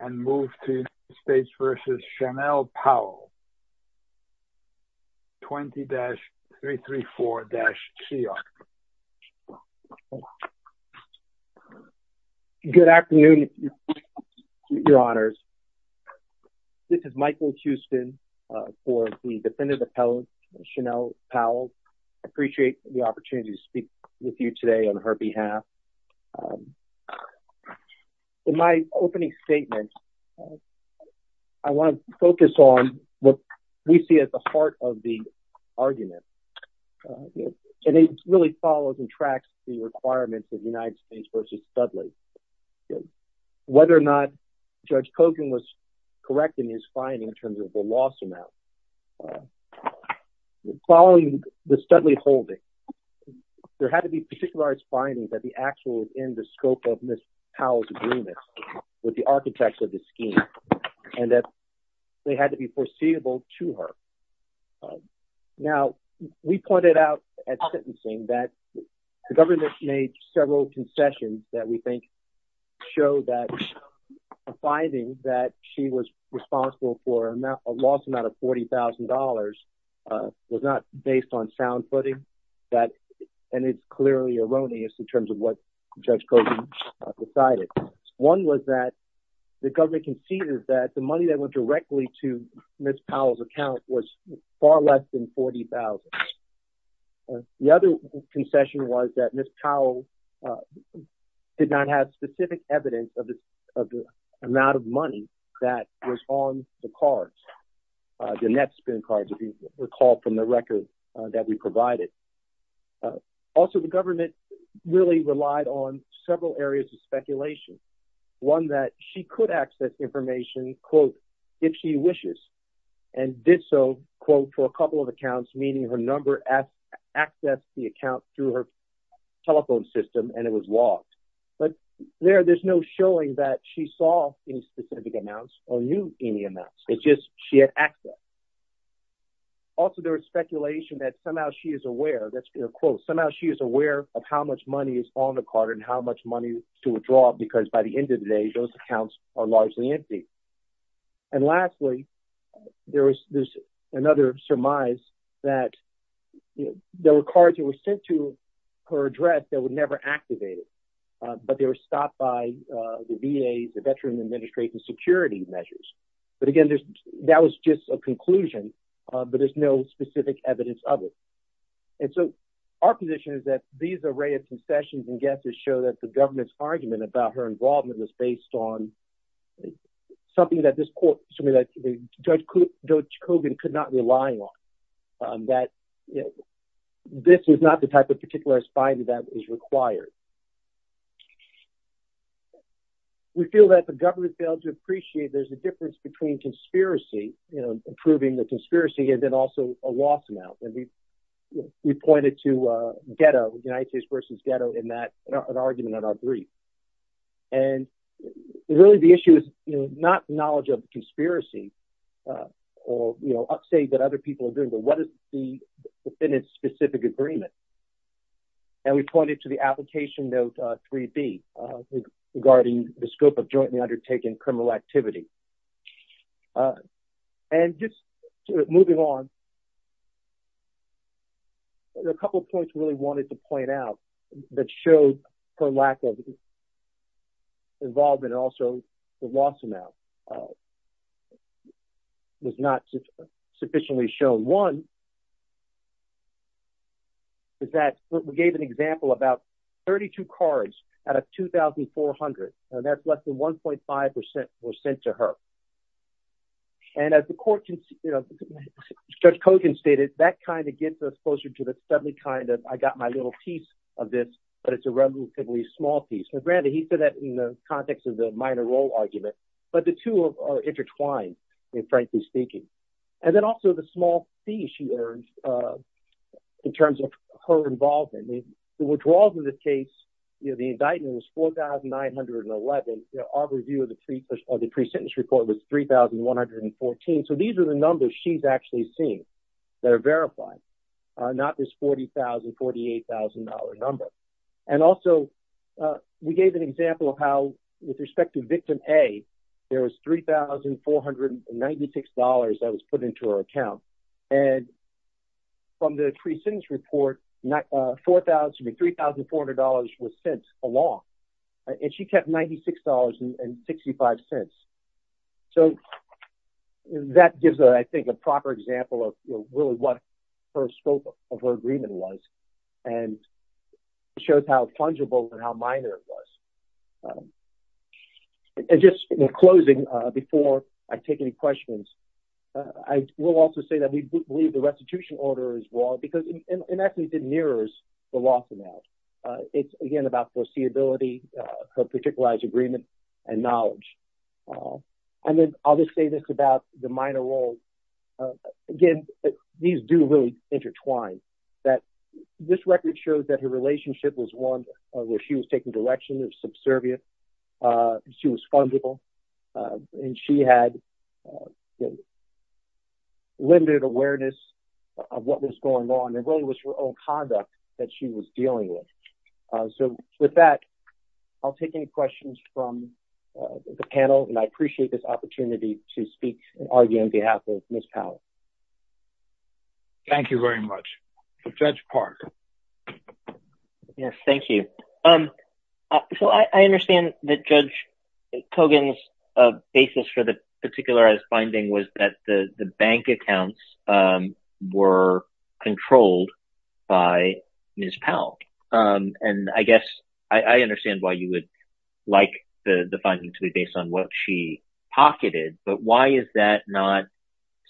and move to States v. Chanel Powell, 20-334-CR. Good afternoon, your honors. This is Michael Houston for the defendant appellate, Chanel Powell. Appreciate the opportunity to speak with you today on her behalf. In my opening statement, I want to focus on what we see as the heart of the argument. And it really follows and tracks the requirements of United States v. Studley. Whether or not Judge Kogan was correct in his finding in terms of the loss amount. Following the Studley holding, there had to be particular findings that the actual in the scope of Ms. Powell's agreement with the architects of the scheme, and that they had to be foreseeable to her. Now, we pointed out at sentencing that the government made several concessions that we think show that a finding that she was responsible for a loss amount of $40,000 was not based on sound footing. And it's clearly erroneous in terms of what Judge Kogan decided. One was that the government conceded that the money that went directly to Ms. Powell's account was far less than $40,000. The other concession was that Ms. Powell did not have specific evidence of the amount of money that was on the cards, the net spend cards, if you recall from the record that we provided. Also, the government really relied on several areas of speculation, one that she could access information, quote, if she wishes, and did so, quote, for a couple of accounts, meaning her number accessed the account through her telephone system, and it was logged. But there, there's no showing that she saw any specific amounts or knew any amounts. It's just she had access. Also, there was speculation that somehow she is aware, that's a quote, somehow she is aware of how much money is on the card and how much money to withdraw, because by the end of the day, those accounts are largely empty. And lastly, there's another surmise that there were cards that were sent to her address that were never activated, but they were stopped by the VA, the Veteran Administration security measures. But again, that was just a conclusion, but there's no specific evidence of it. And so our position is that these array of concessions and guesses show that the government's argument about her involvement was based on something that this court, something that Judge Kogan could not rely on, that this was not the type of particularized finding that is required. We feel that the government failed to appreciate that there's a difference between conspiracy, improving the conspiracy, and then also a loss amount. And we pointed to a ghetto, United States versus ghetto in that argument in our brief. And really the issue is not knowledge of conspiracy or upstate that other people are doing, but what is the defendant's specific agreement? And we pointed to the application note 3B regarding the scope of jointly undertaken criminal activity. And just moving on, there are a couple of points we really wanted to point out that showed her lack of involvement and also the loss amount was not sufficiently shown. One is that we gave an example about 32 cards out of 2,400, and that's less than 1.5% were sent to her. And as the court, Judge Kogan stated, that kind of gets us closer to the suddenly kind of, I got my little piece of this, but it's a relatively small piece. And granted, he said that in the context of the minor role argument, but the two are intertwined, frankly speaking. And then also the small fee she earned in terms of her involvement. The withdrawals in this case, the indictment was 4,911. Our review of the pre-sentence report was 3,114. So these are the numbers she's actually seen that are verified, not this $40,000, $48,000 number. And also we gave an example of how with respect to victim A, there was $3,496 that was put into her account. And from the pre-sentence report, $4,000 to $3,400 was sent along, and she kept $96.65. So that gives, I think, a proper example of really what her scope of her agreement was and showed how fungible and how minor it was. And just in closing, before I take any questions, I will also say that we believe the restitution order is wrong because it actually mirrors the loss amount. It's again about foreseeability, her particularized agreement, and knowledge. And then I'll just say this about the minor role. Again, these do really intertwine, that this record shows that her relationship was one where she was taking direction of subservient. She was fungible, and she had limited awareness of what was going on, and really was her own conduct that she was dealing with. So with that, I'll take any questions from the panel, and I appreciate this opportunity to speak and argue on behalf of Ms. Powell. Thank you very much. Judge Park. Yes, thank you. So I understand that Judge Kogan's basis for the particularized finding was that the bank accounts were controlled by Ms. Powell. And I guess I understand why you would like the finding to be based on what she pocketed, but why is that not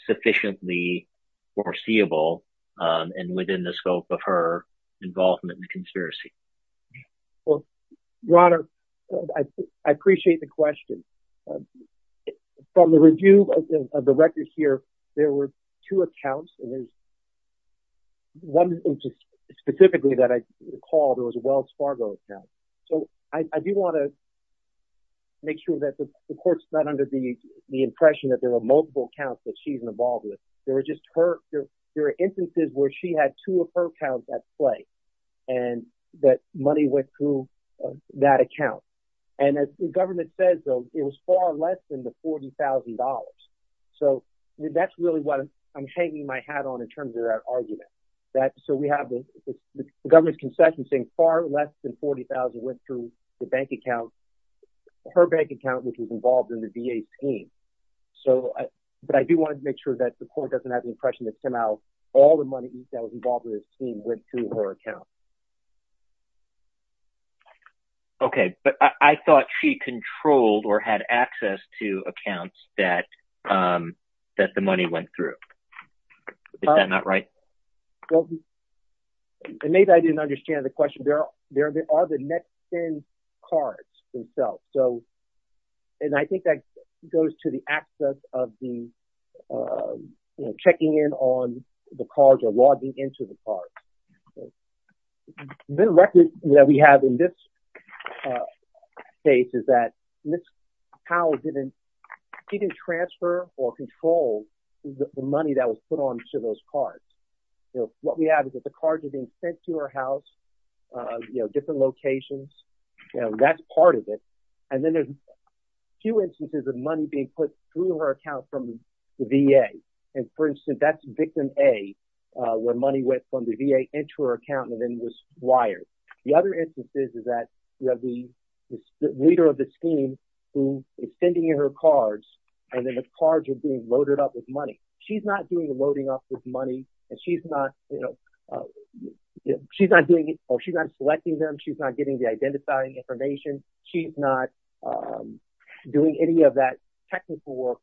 sufficiently foreseeable, and within the scope of her involvement in the conspiracy? Well, Ron, I appreciate the question. From the review of the records here, there were two accounts, and there's one specifically that I recall, there was a Wells Fargo account. So I do wanna make sure that the court's not under the impression that there were multiple accounts that she's involved with. There were instances where she had two of her accounts at play, and that money went through that account. And as the government says though, it was far less than the $40,000. So that's really what I'm hanging my hat on in terms of that argument. So we have the government's concession saying far less than 40,000 went through the bank account, her bank account, which was involved in the VA scheme. So, but I do wanna make sure that the court doesn't have the impression that somehow all the money that was involved in this scheme went to her account. Okay, but I thought she controlled or had access to accounts that the money went through. Is that not right? Well, and maybe I didn't understand the question. There are the net spend cards themselves. So, and I think that goes to the access of the checking in on the cards or logging into the cards. The record that we have in this case is that Ms. Powell didn't, she didn't transfer or control the money that was put onto those cards. What we have is that the cards are being sent to her house, different locations, that's part of it. And then there's a few instances of money being put through her account from the VA. And for instance, that's victim A, where money went from the VA into her account and then was wired. The other instances is that you have the leader of the scheme who is sending her cards and then the cards are being loaded up with money. She's not doing the loading up with money and she's not, you know, she's not doing it or she's not selecting them. She's not getting the identifying information. She's not doing any of that technical work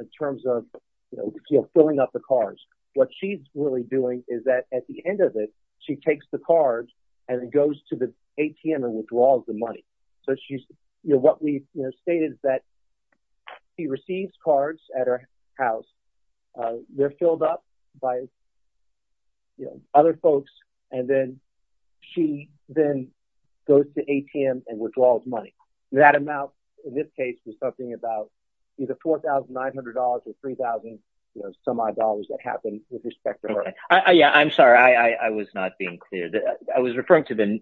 in terms of, you know, filling up the cards. What she's really doing is that at the end of it, she takes the cards and it goes to the ATM and withdraws the money. So she's, you know, what we stated is that she receives cards at her house. They're filled up by, you know, other folks. And then she then goes to ATM and withdraws money. That amount, in this case, was something about either $4,900 or 3,000, you know, semi-dollars that happened with respect to her. Yeah, I'm sorry. I was not being clear. I was referring to the,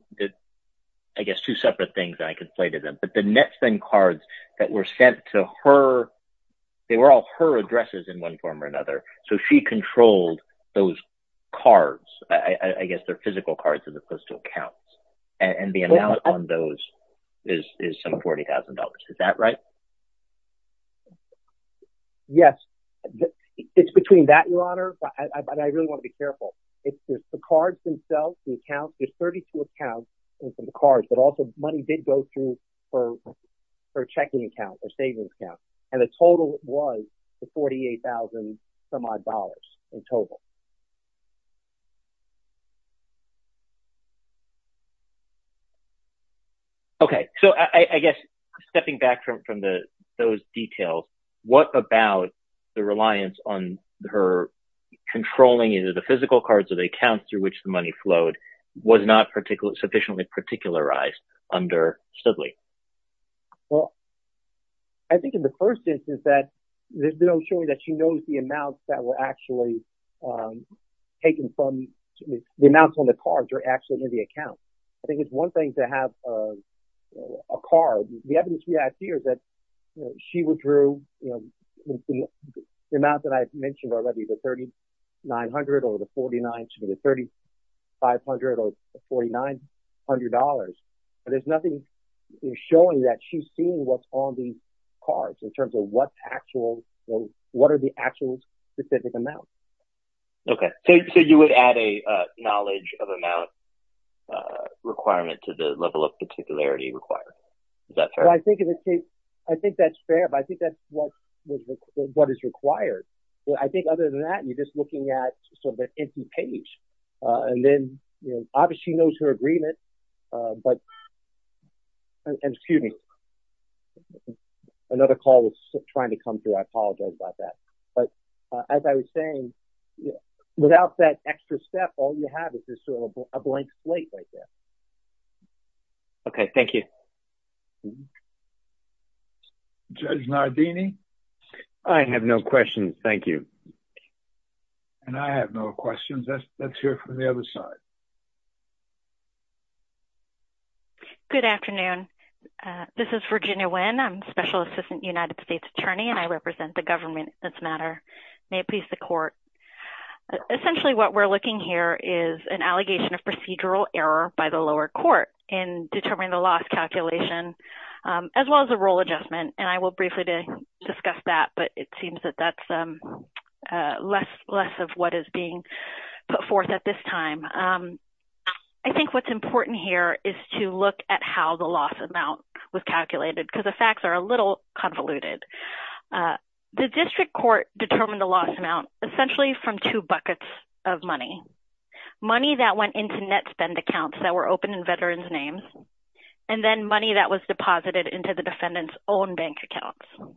I guess, two separate things that I could play to them. But the NetSpend cards that were sent to her, they were all her addresses in one form or another. So she controlled those cards. I guess they're physical cards that are supposed to count. And the amount on those is some $40,000. Is that right? Yes. It's between that, Your Honor. And I really want to be careful. It's the cards themselves, the accounts. There's 34 accounts in the cards, but also money did go through her checking account, her savings account. And the total was the $48,000-some-odd dollars in total. Okay, so I guess stepping back from those details, what about the reliance on her controlling either the physical cards or the accounts through which the money flowed was not sufficiently particularized under Studley? Well, I think in the first instance that, there's no showing that she knows the amounts that were actually taken from, the amounts on the cards are actually in the account. I think it's one thing to have a card. The evidence we have here is that she withdrew the amount that I've mentioned already, the $3,900 or the $4,900 to the $3,500 or $4,900. There's nothing showing that she's seen what's on these cards in terms of what's actual, what are the actual specific amounts? Okay, so you would add a knowledge of amount requirement to the level of particularity required. Is that fair? Well, I think in this case, I think that's fair, but I think that's what is required. Well, I think other than that, you're just looking at sort of an empty page. And then obviously she knows her agreement, but, excuse me, another call was trying to come through. I apologize about that. But as I was saying, without that extra step, all you have is just sort of a blank slate right there. Okay, thank you. Judge Nardini? I have no questions, thank you. And I have no questions. Let's hear from the other side. Good afternoon. This is Virginia Wynn. I'm Special Assistant United States Attorney, and I represent the government in this matter. May it please the court. Essentially what we're looking here is an allegation of procedural error by the lower court in determining the loss calculation, as well as the role adjustment. And I will briefly discuss that, but it seems that that's less of what is being put forth at this time. I think what's important here is to look at how the loss amount was calculated, because the facts are a little convoluted. The district court determined the loss amount essentially from two buckets of money. Money that went into net spend accounts that were open in veterans' names, and then money that was deposited into the defendant's own bank accounts.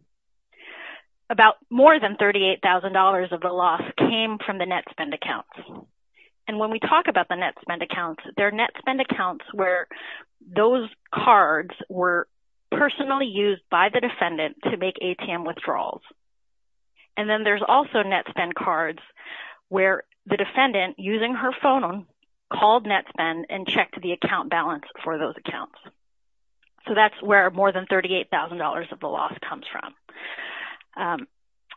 About more than $38,000 of the loss came from the net spend accounts. And when we talk about the net spend accounts, they're net spend accounts where those cards were personally used by the defendant to make ATM withdrawals. And then there's also net spend cards where the defendant, using her phone, called net spend and checked the account balance for those accounts. So that's where more than $38,000 of the loss comes from.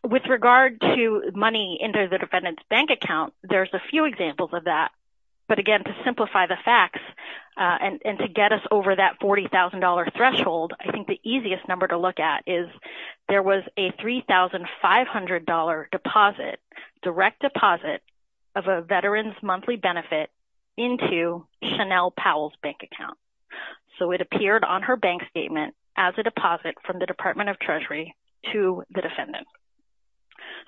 With regard to money into the defendant's bank account, there's a few examples of that. But again, to simplify the facts, and to get us over that $40,000 threshold, I think the easiest number to look at is there was a $3,500 direct deposit of a veteran's monthly benefit into Chanel Powell's bank account. So it appeared on her bank statement as a deposit from the Department of Treasury to the defendant.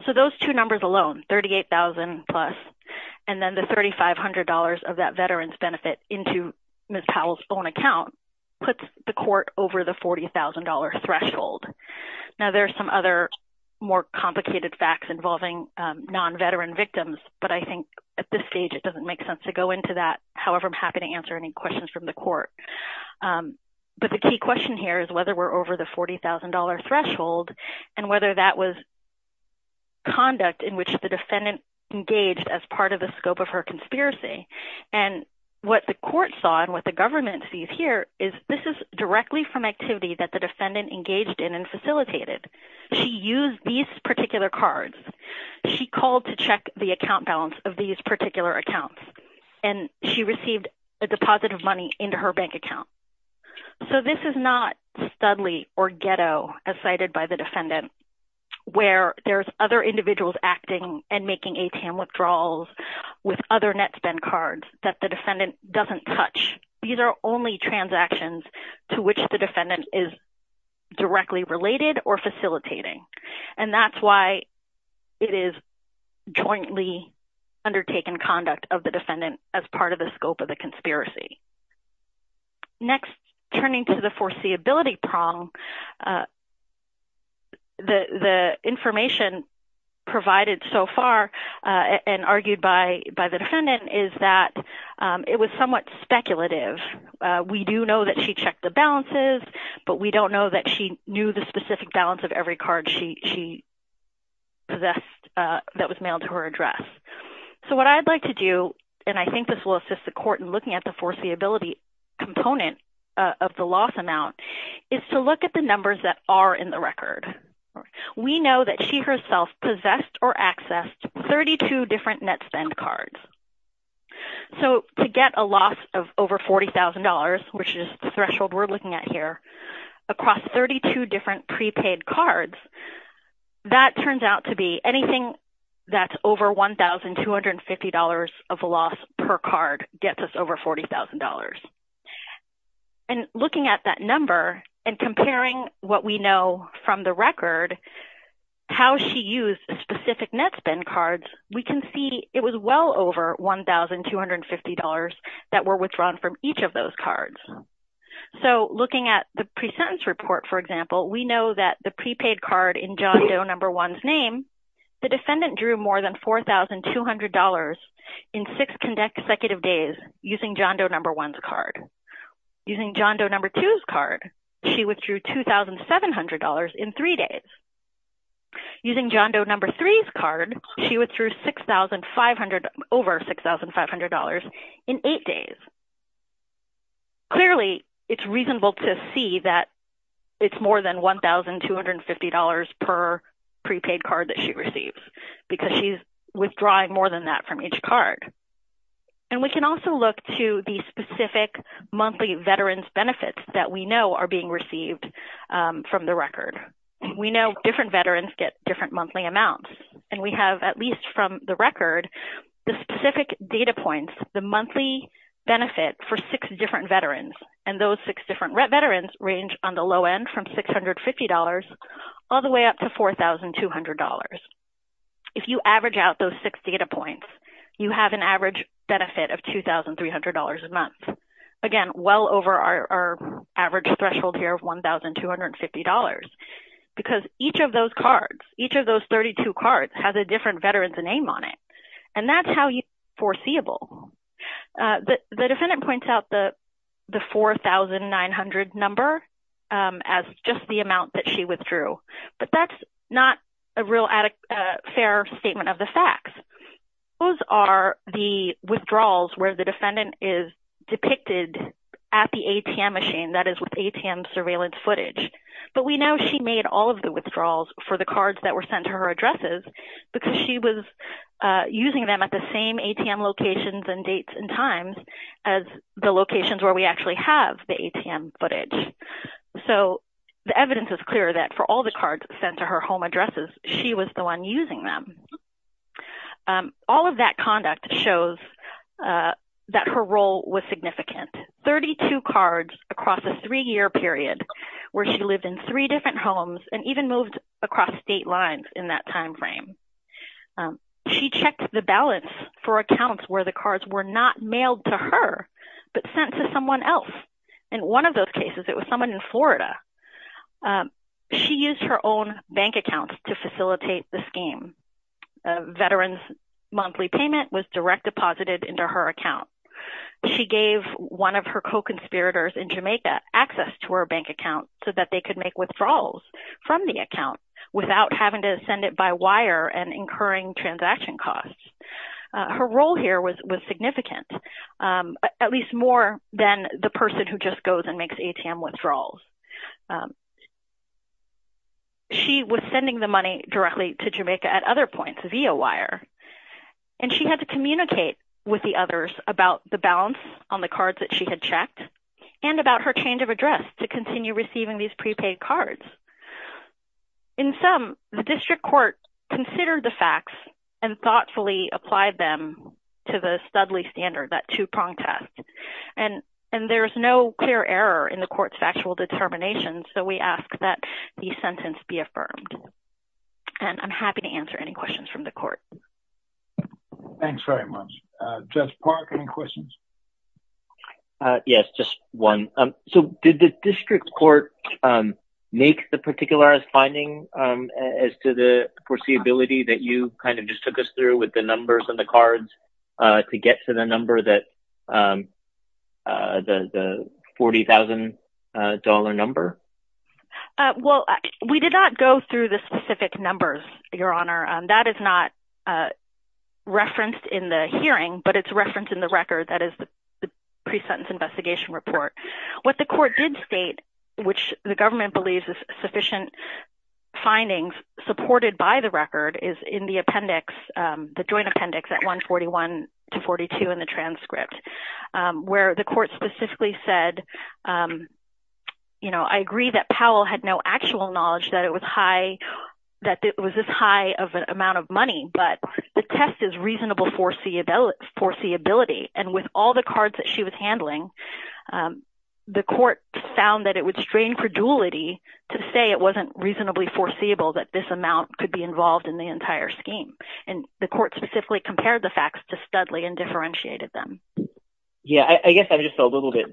So those two numbers alone, 38,000 plus, and then the $3,500 of that veteran's benefit into Ms. Powell's own account puts the court over the $40,000 threshold. Now there's some other more complicated facts involving non-veteran victims, but I think at this stage, it doesn't make sense to go into that. However, I'm happy to answer any questions from the court. But the key question here is whether we're over the $40,000 threshold and whether that was conduct in which the defendant engaged as part of the scope of her conspiracy. And what the court saw and what the government sees here is this is directly from activity that the defendant engaged in and facilitated. She used these particular cards. She called to check the account balance of these particular accounts, and she received a deposit of money into her bank account. So this is not studly or ghetto as cited by the defendant where there's other individuals acting and making ATM withdrawals with other net spend cards that the defendant doesn't touch. These are only transactions to which the defendant is directly related or facilitating. And that's why it is jointly undertaken conduct of the defendant as part of the scope of the conspiracy. Next, turning to the foreseeability prong, the information provided so far and argued by the defendant is that it was somewhat speculative. We do know that she checked the balances, but we don't know that she knew the specific balance of every card she possessed that was mailed to her address. So what I'd like to do, and I think this will assist the court in looking at the foreseeability component of the loss amount, is to look at the numbers that are in the record. We know that she herself possessed or accessed 32 different net spend cards. So to get a loss of over $40,000, which is the threshold we're looking at here, across 32 different prepaid cards, that turns out to be anything gets us over $40,000. And looking at that number and comparing what we know from the record, how she used specific net spend cards, we can see it was well over $1,250 that were withdrawn from each of those cards. So looking at the pre-sentence report, for example, we know that the prepaid card in John Doe number one's name, the defendant drew more than $4,200 in six consecutive days using John Doe number one's card. Using John Doe number two's card, she withdrew $2,700 in three days. Using John Doe number three's card, she withdrew over $6,500 in eight days. Clearly, it's reasonable to see that it's more than $1,250 per prepaid card that she receives, because she's withdrawing more than that from each card. And we can also look to the specific monthly veterans benefits that we know are being received from the record. We know different veterans get different monthly amounts. And we have, at least from the record, the specific data points, the monthly benefit for six different veterans. And those six different veterans range on the low end from $650 all the way up to $4,200. If you average out those six data points, you have an average benefit of $2,300 a month. Again, well over our average threshold here of $1,250. Because each of those cards, each of those 32 cards has a different veteran's name on it. And that's how you foreseeable. The defendant points out the 4,900 number as just the amount that she withdrew. But that's not a real fair statement of the facts. Those are the withdrawals where the defendant is depicted at the ATM machine, that is with ATM surveillance footage. But we know she made all of the withdrawals for the cards that were sent to her addresses because she was using them at the same ATM locations and dates and times as the locations where we actually have the ATM footage. So the evidence is clear that for all the cards sent to her home addresses, she was the one using them. All of that conduct shows that her role was significant. 32 cards across a three-year period where she lived in three different homes and even moved across state lines in that timeframe. She checked the balance for accounts where the cards were not mailed to her, but sent to someone else. In one of those cases, it was someone in Florida. She used her own bank accounts to facilitate the scheme. A veteran's monthly payment was direct deposited into her account. She gave one of her co-conspirators in Jamaica access to her bank account so that they could make withdrawals from the account without having to send it by wire and incurring transaction costs. Her role here was significant, at least more than the person who just goes and makes ATM withdrawals. She was sending the money directly to Jamaica at other points via wire. And she had to communicate with the others about the balance on the cards that she had checked and about her change of address to continue receiving these prepaid cards. In sum, the district court considered the facts and thoughtfully applied them to the Studley standard, that two-prong test. And there's no clear error in the court's factual determination, so we ask that the sentence be affirmed. And I'm happy to answer any questions from the court. Thanks very much. Judge Park, any questions? Yes, just one. So did the district court make the particular finding as to the foreseeability that you kind of just took us through with the numbers and the cards to get to the number that, the $40,000 number? Well, we did not go through the specific numbers, Your Honor. That is not referenced in the hearing, but it's referenced in the record that is the pre-sentence investigation report. What the court did state, which the government believes is sufficient findings supported by the record is in the appendix, the joint appendix at 141 to 42 in the transcript, where the court specifically said, you know, I agree that Powell had no actual knowledge that it was high, that it was this high of an amount of money, but the test is reasonable foreseeability. And with all the cards that she was handling, the court found that it would strain credulity to say it wasn't reasonably foreseeable that this amount could be involved in the entire scheme. And the court specifically compared the facts to Studley and differentiated them. Yeah, I guess I'm just a little bit,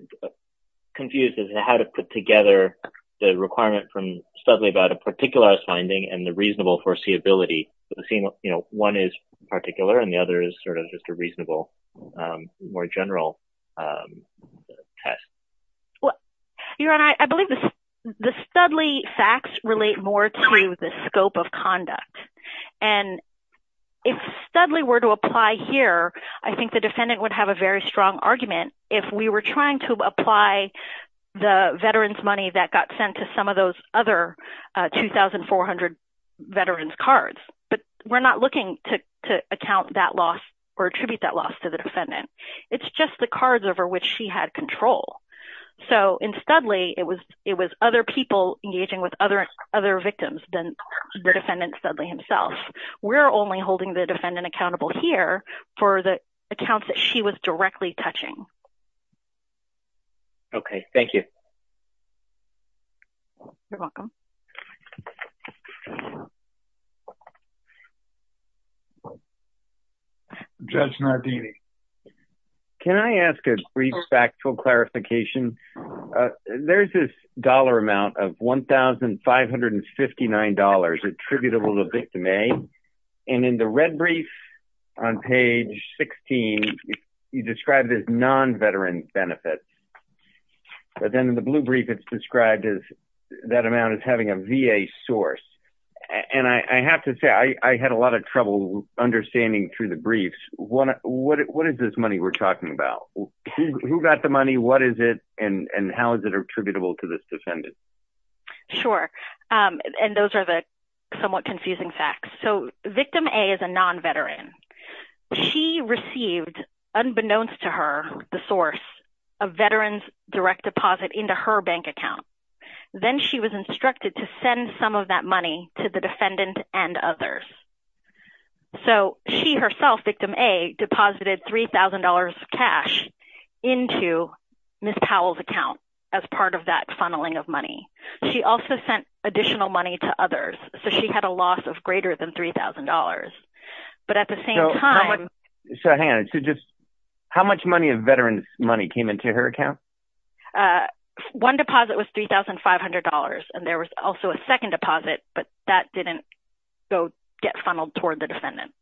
confused as to how to put together the requirement from Studley about a particular finding and the reasonable foreseeability, but the same, you know, one is particular and the other is sort of just a reasonable, more general test. Well, Your Honor, I believe the Studley facts relate more to the scope of conduct. And if Studley were to apply here, I think the defendant would have a very strong argument if we were trying to apply the veterans' money that got sent to some of those other 2,400 veterans' cards. But we're not looking to account that loss or attribute that loss to the defendant. It's just the cards over which she had control. So in Studley, it was other people engaging with other victims than the defendant, Studley himself. We're only holding the defendant accountable here for the accounts that she was directly touching. Okay, thank you. You're welcome. Judge Nardini. Can I ask a brief factual clarification? There's this dollar amount of $1,559 attributable to victim A. And in the red brief on page 16, you described it as non-veteran benefits. But then in the blue brief, it's described as that amount as having a VA source. And I have to say, I had a lot of trouble understanding through the briefs, what is this money we're talking about? Who got the money, what is it, and how is it attributable to this defendant? Sure, and those are the somewhat confusing facts. So victim A is a non-veteran. She received, unbeknownst to her, the source of veteran's direct deposit into her bank account. Then she was instructed to send some of that money to the defendant and others. So she herself, victim A, deposited $3,000 cash into Ms. Powell's account as part of that funneling of money. She also sent additional money to others. So she had a loss of greater than $3,000. But at the same time- So hang on, so just how much money of veteran's money came into her account? One deposit was $3,500, and there was also a second deposit, but that didn't go get funneled toward the defendant.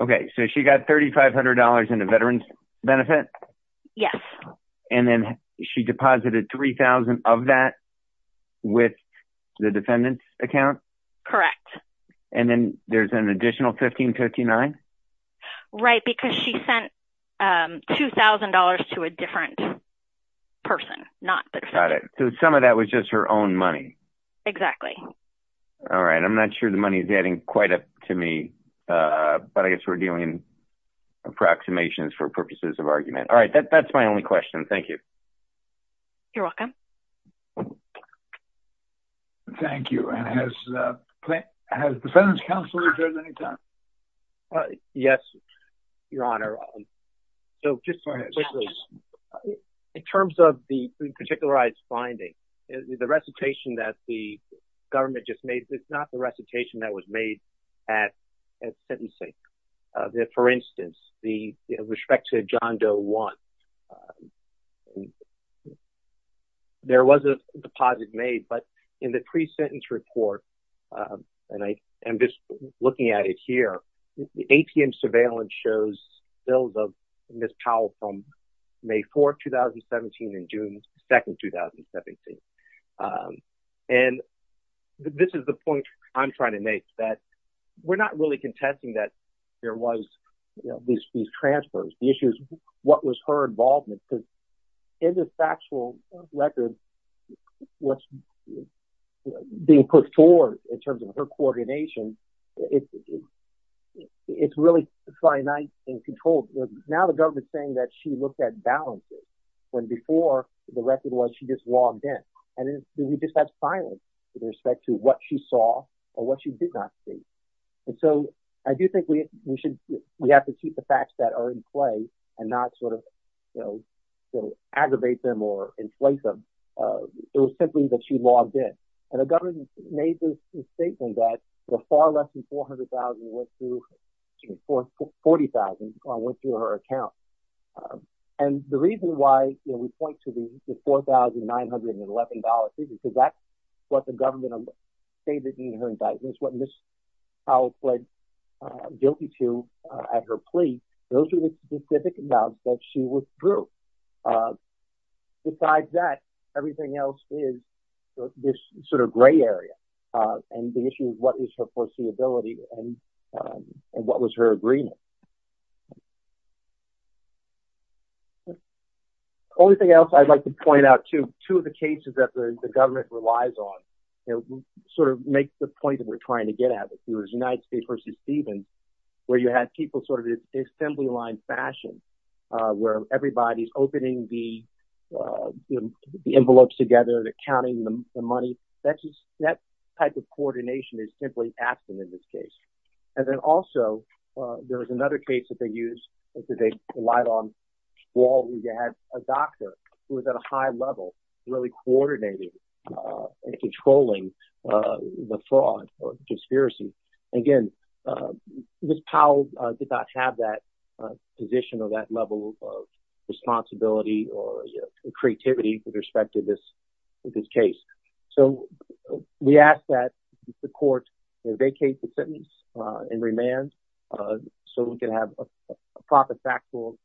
Okay, so she got $3,500 in a veteran's benefit? Yes. And then she deposited 3,000 of that with the defendant's account? Correct. And then there's an additional 1,559? Right, because she sent $2,000 to a different person, not the defendant. Got it, so some of that was just her own money. Exactly. All right, I'm not sure the money is adding quite up to me, but I guess we're dealing in approximations All right, that's my only question, thank you. You're welcome. Thank you, and has the Fenton's Counselor joined any time? Yes, Your Honor. So just in terms of the particularized finding, the recitation that the government just made, it's not the recitation that was made at Fenton's Sink. For instance, with respect to John Doe 1, there was a deposit made, but in the pre-sentence report, and I am just looking at it here, the ATM surveillance shows Bill and Miss Powell from May 4th, 2017 and June 2nd, 2017. And this is the point I'm trying to make, that we're not really contesting that there was these transfers. The issue is what was her involvement, because in this factual record, what's being put forward in terms of her coordination, it's really finite and controlled. Now the government's saying that she looked at balances, when before the record was she just logged in. And then we just have silence with respect to what she saw or what she did not see. And so I do think we have to keep the facts that are in play and not sort of aggravate them or inflate them. It was simply that she logged in. And the government made this statement that the far less than $400,000 went through, $40,000 went through her account. And the reason why we point to the $4,911, because that's what the government stated in her indictments, that's what Ms. Powell pled guilty to at her plea. Those are the specific amounts that she withdrew. Besides that, everything else is this sort of gray area and the issue of what is her foreseeability and what was her agreement. Only thing else I'd like to point out too, two of the cases that the government relies on, sort of make the point that we're trying to get at, there was United States v. Stevens, where you had people sort of in assembly line fashion, where everybody's opening the envelopes together, they're counting the money. That type of coordination is simply absent in this case. And then also, there was another case that they used, which is a live on wall where you had a doctor who was at a high level, really coordinated and controlling the fraud or conspiracy. Again, Ms. Powell did not have that position or that level of responsibility or creativity with respect to this case. So we ask that the court vacate the sentence and remand so we can have a proper factual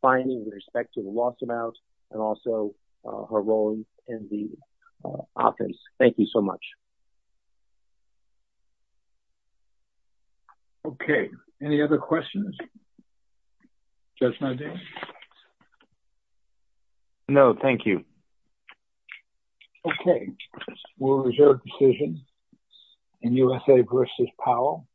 finding with respect to the lost amount and also her role in the offense. Thank you so much. Okay, any other questions? Judge Nardin? No, thank you. Okay, we'll reserve decision in USA v. Powell.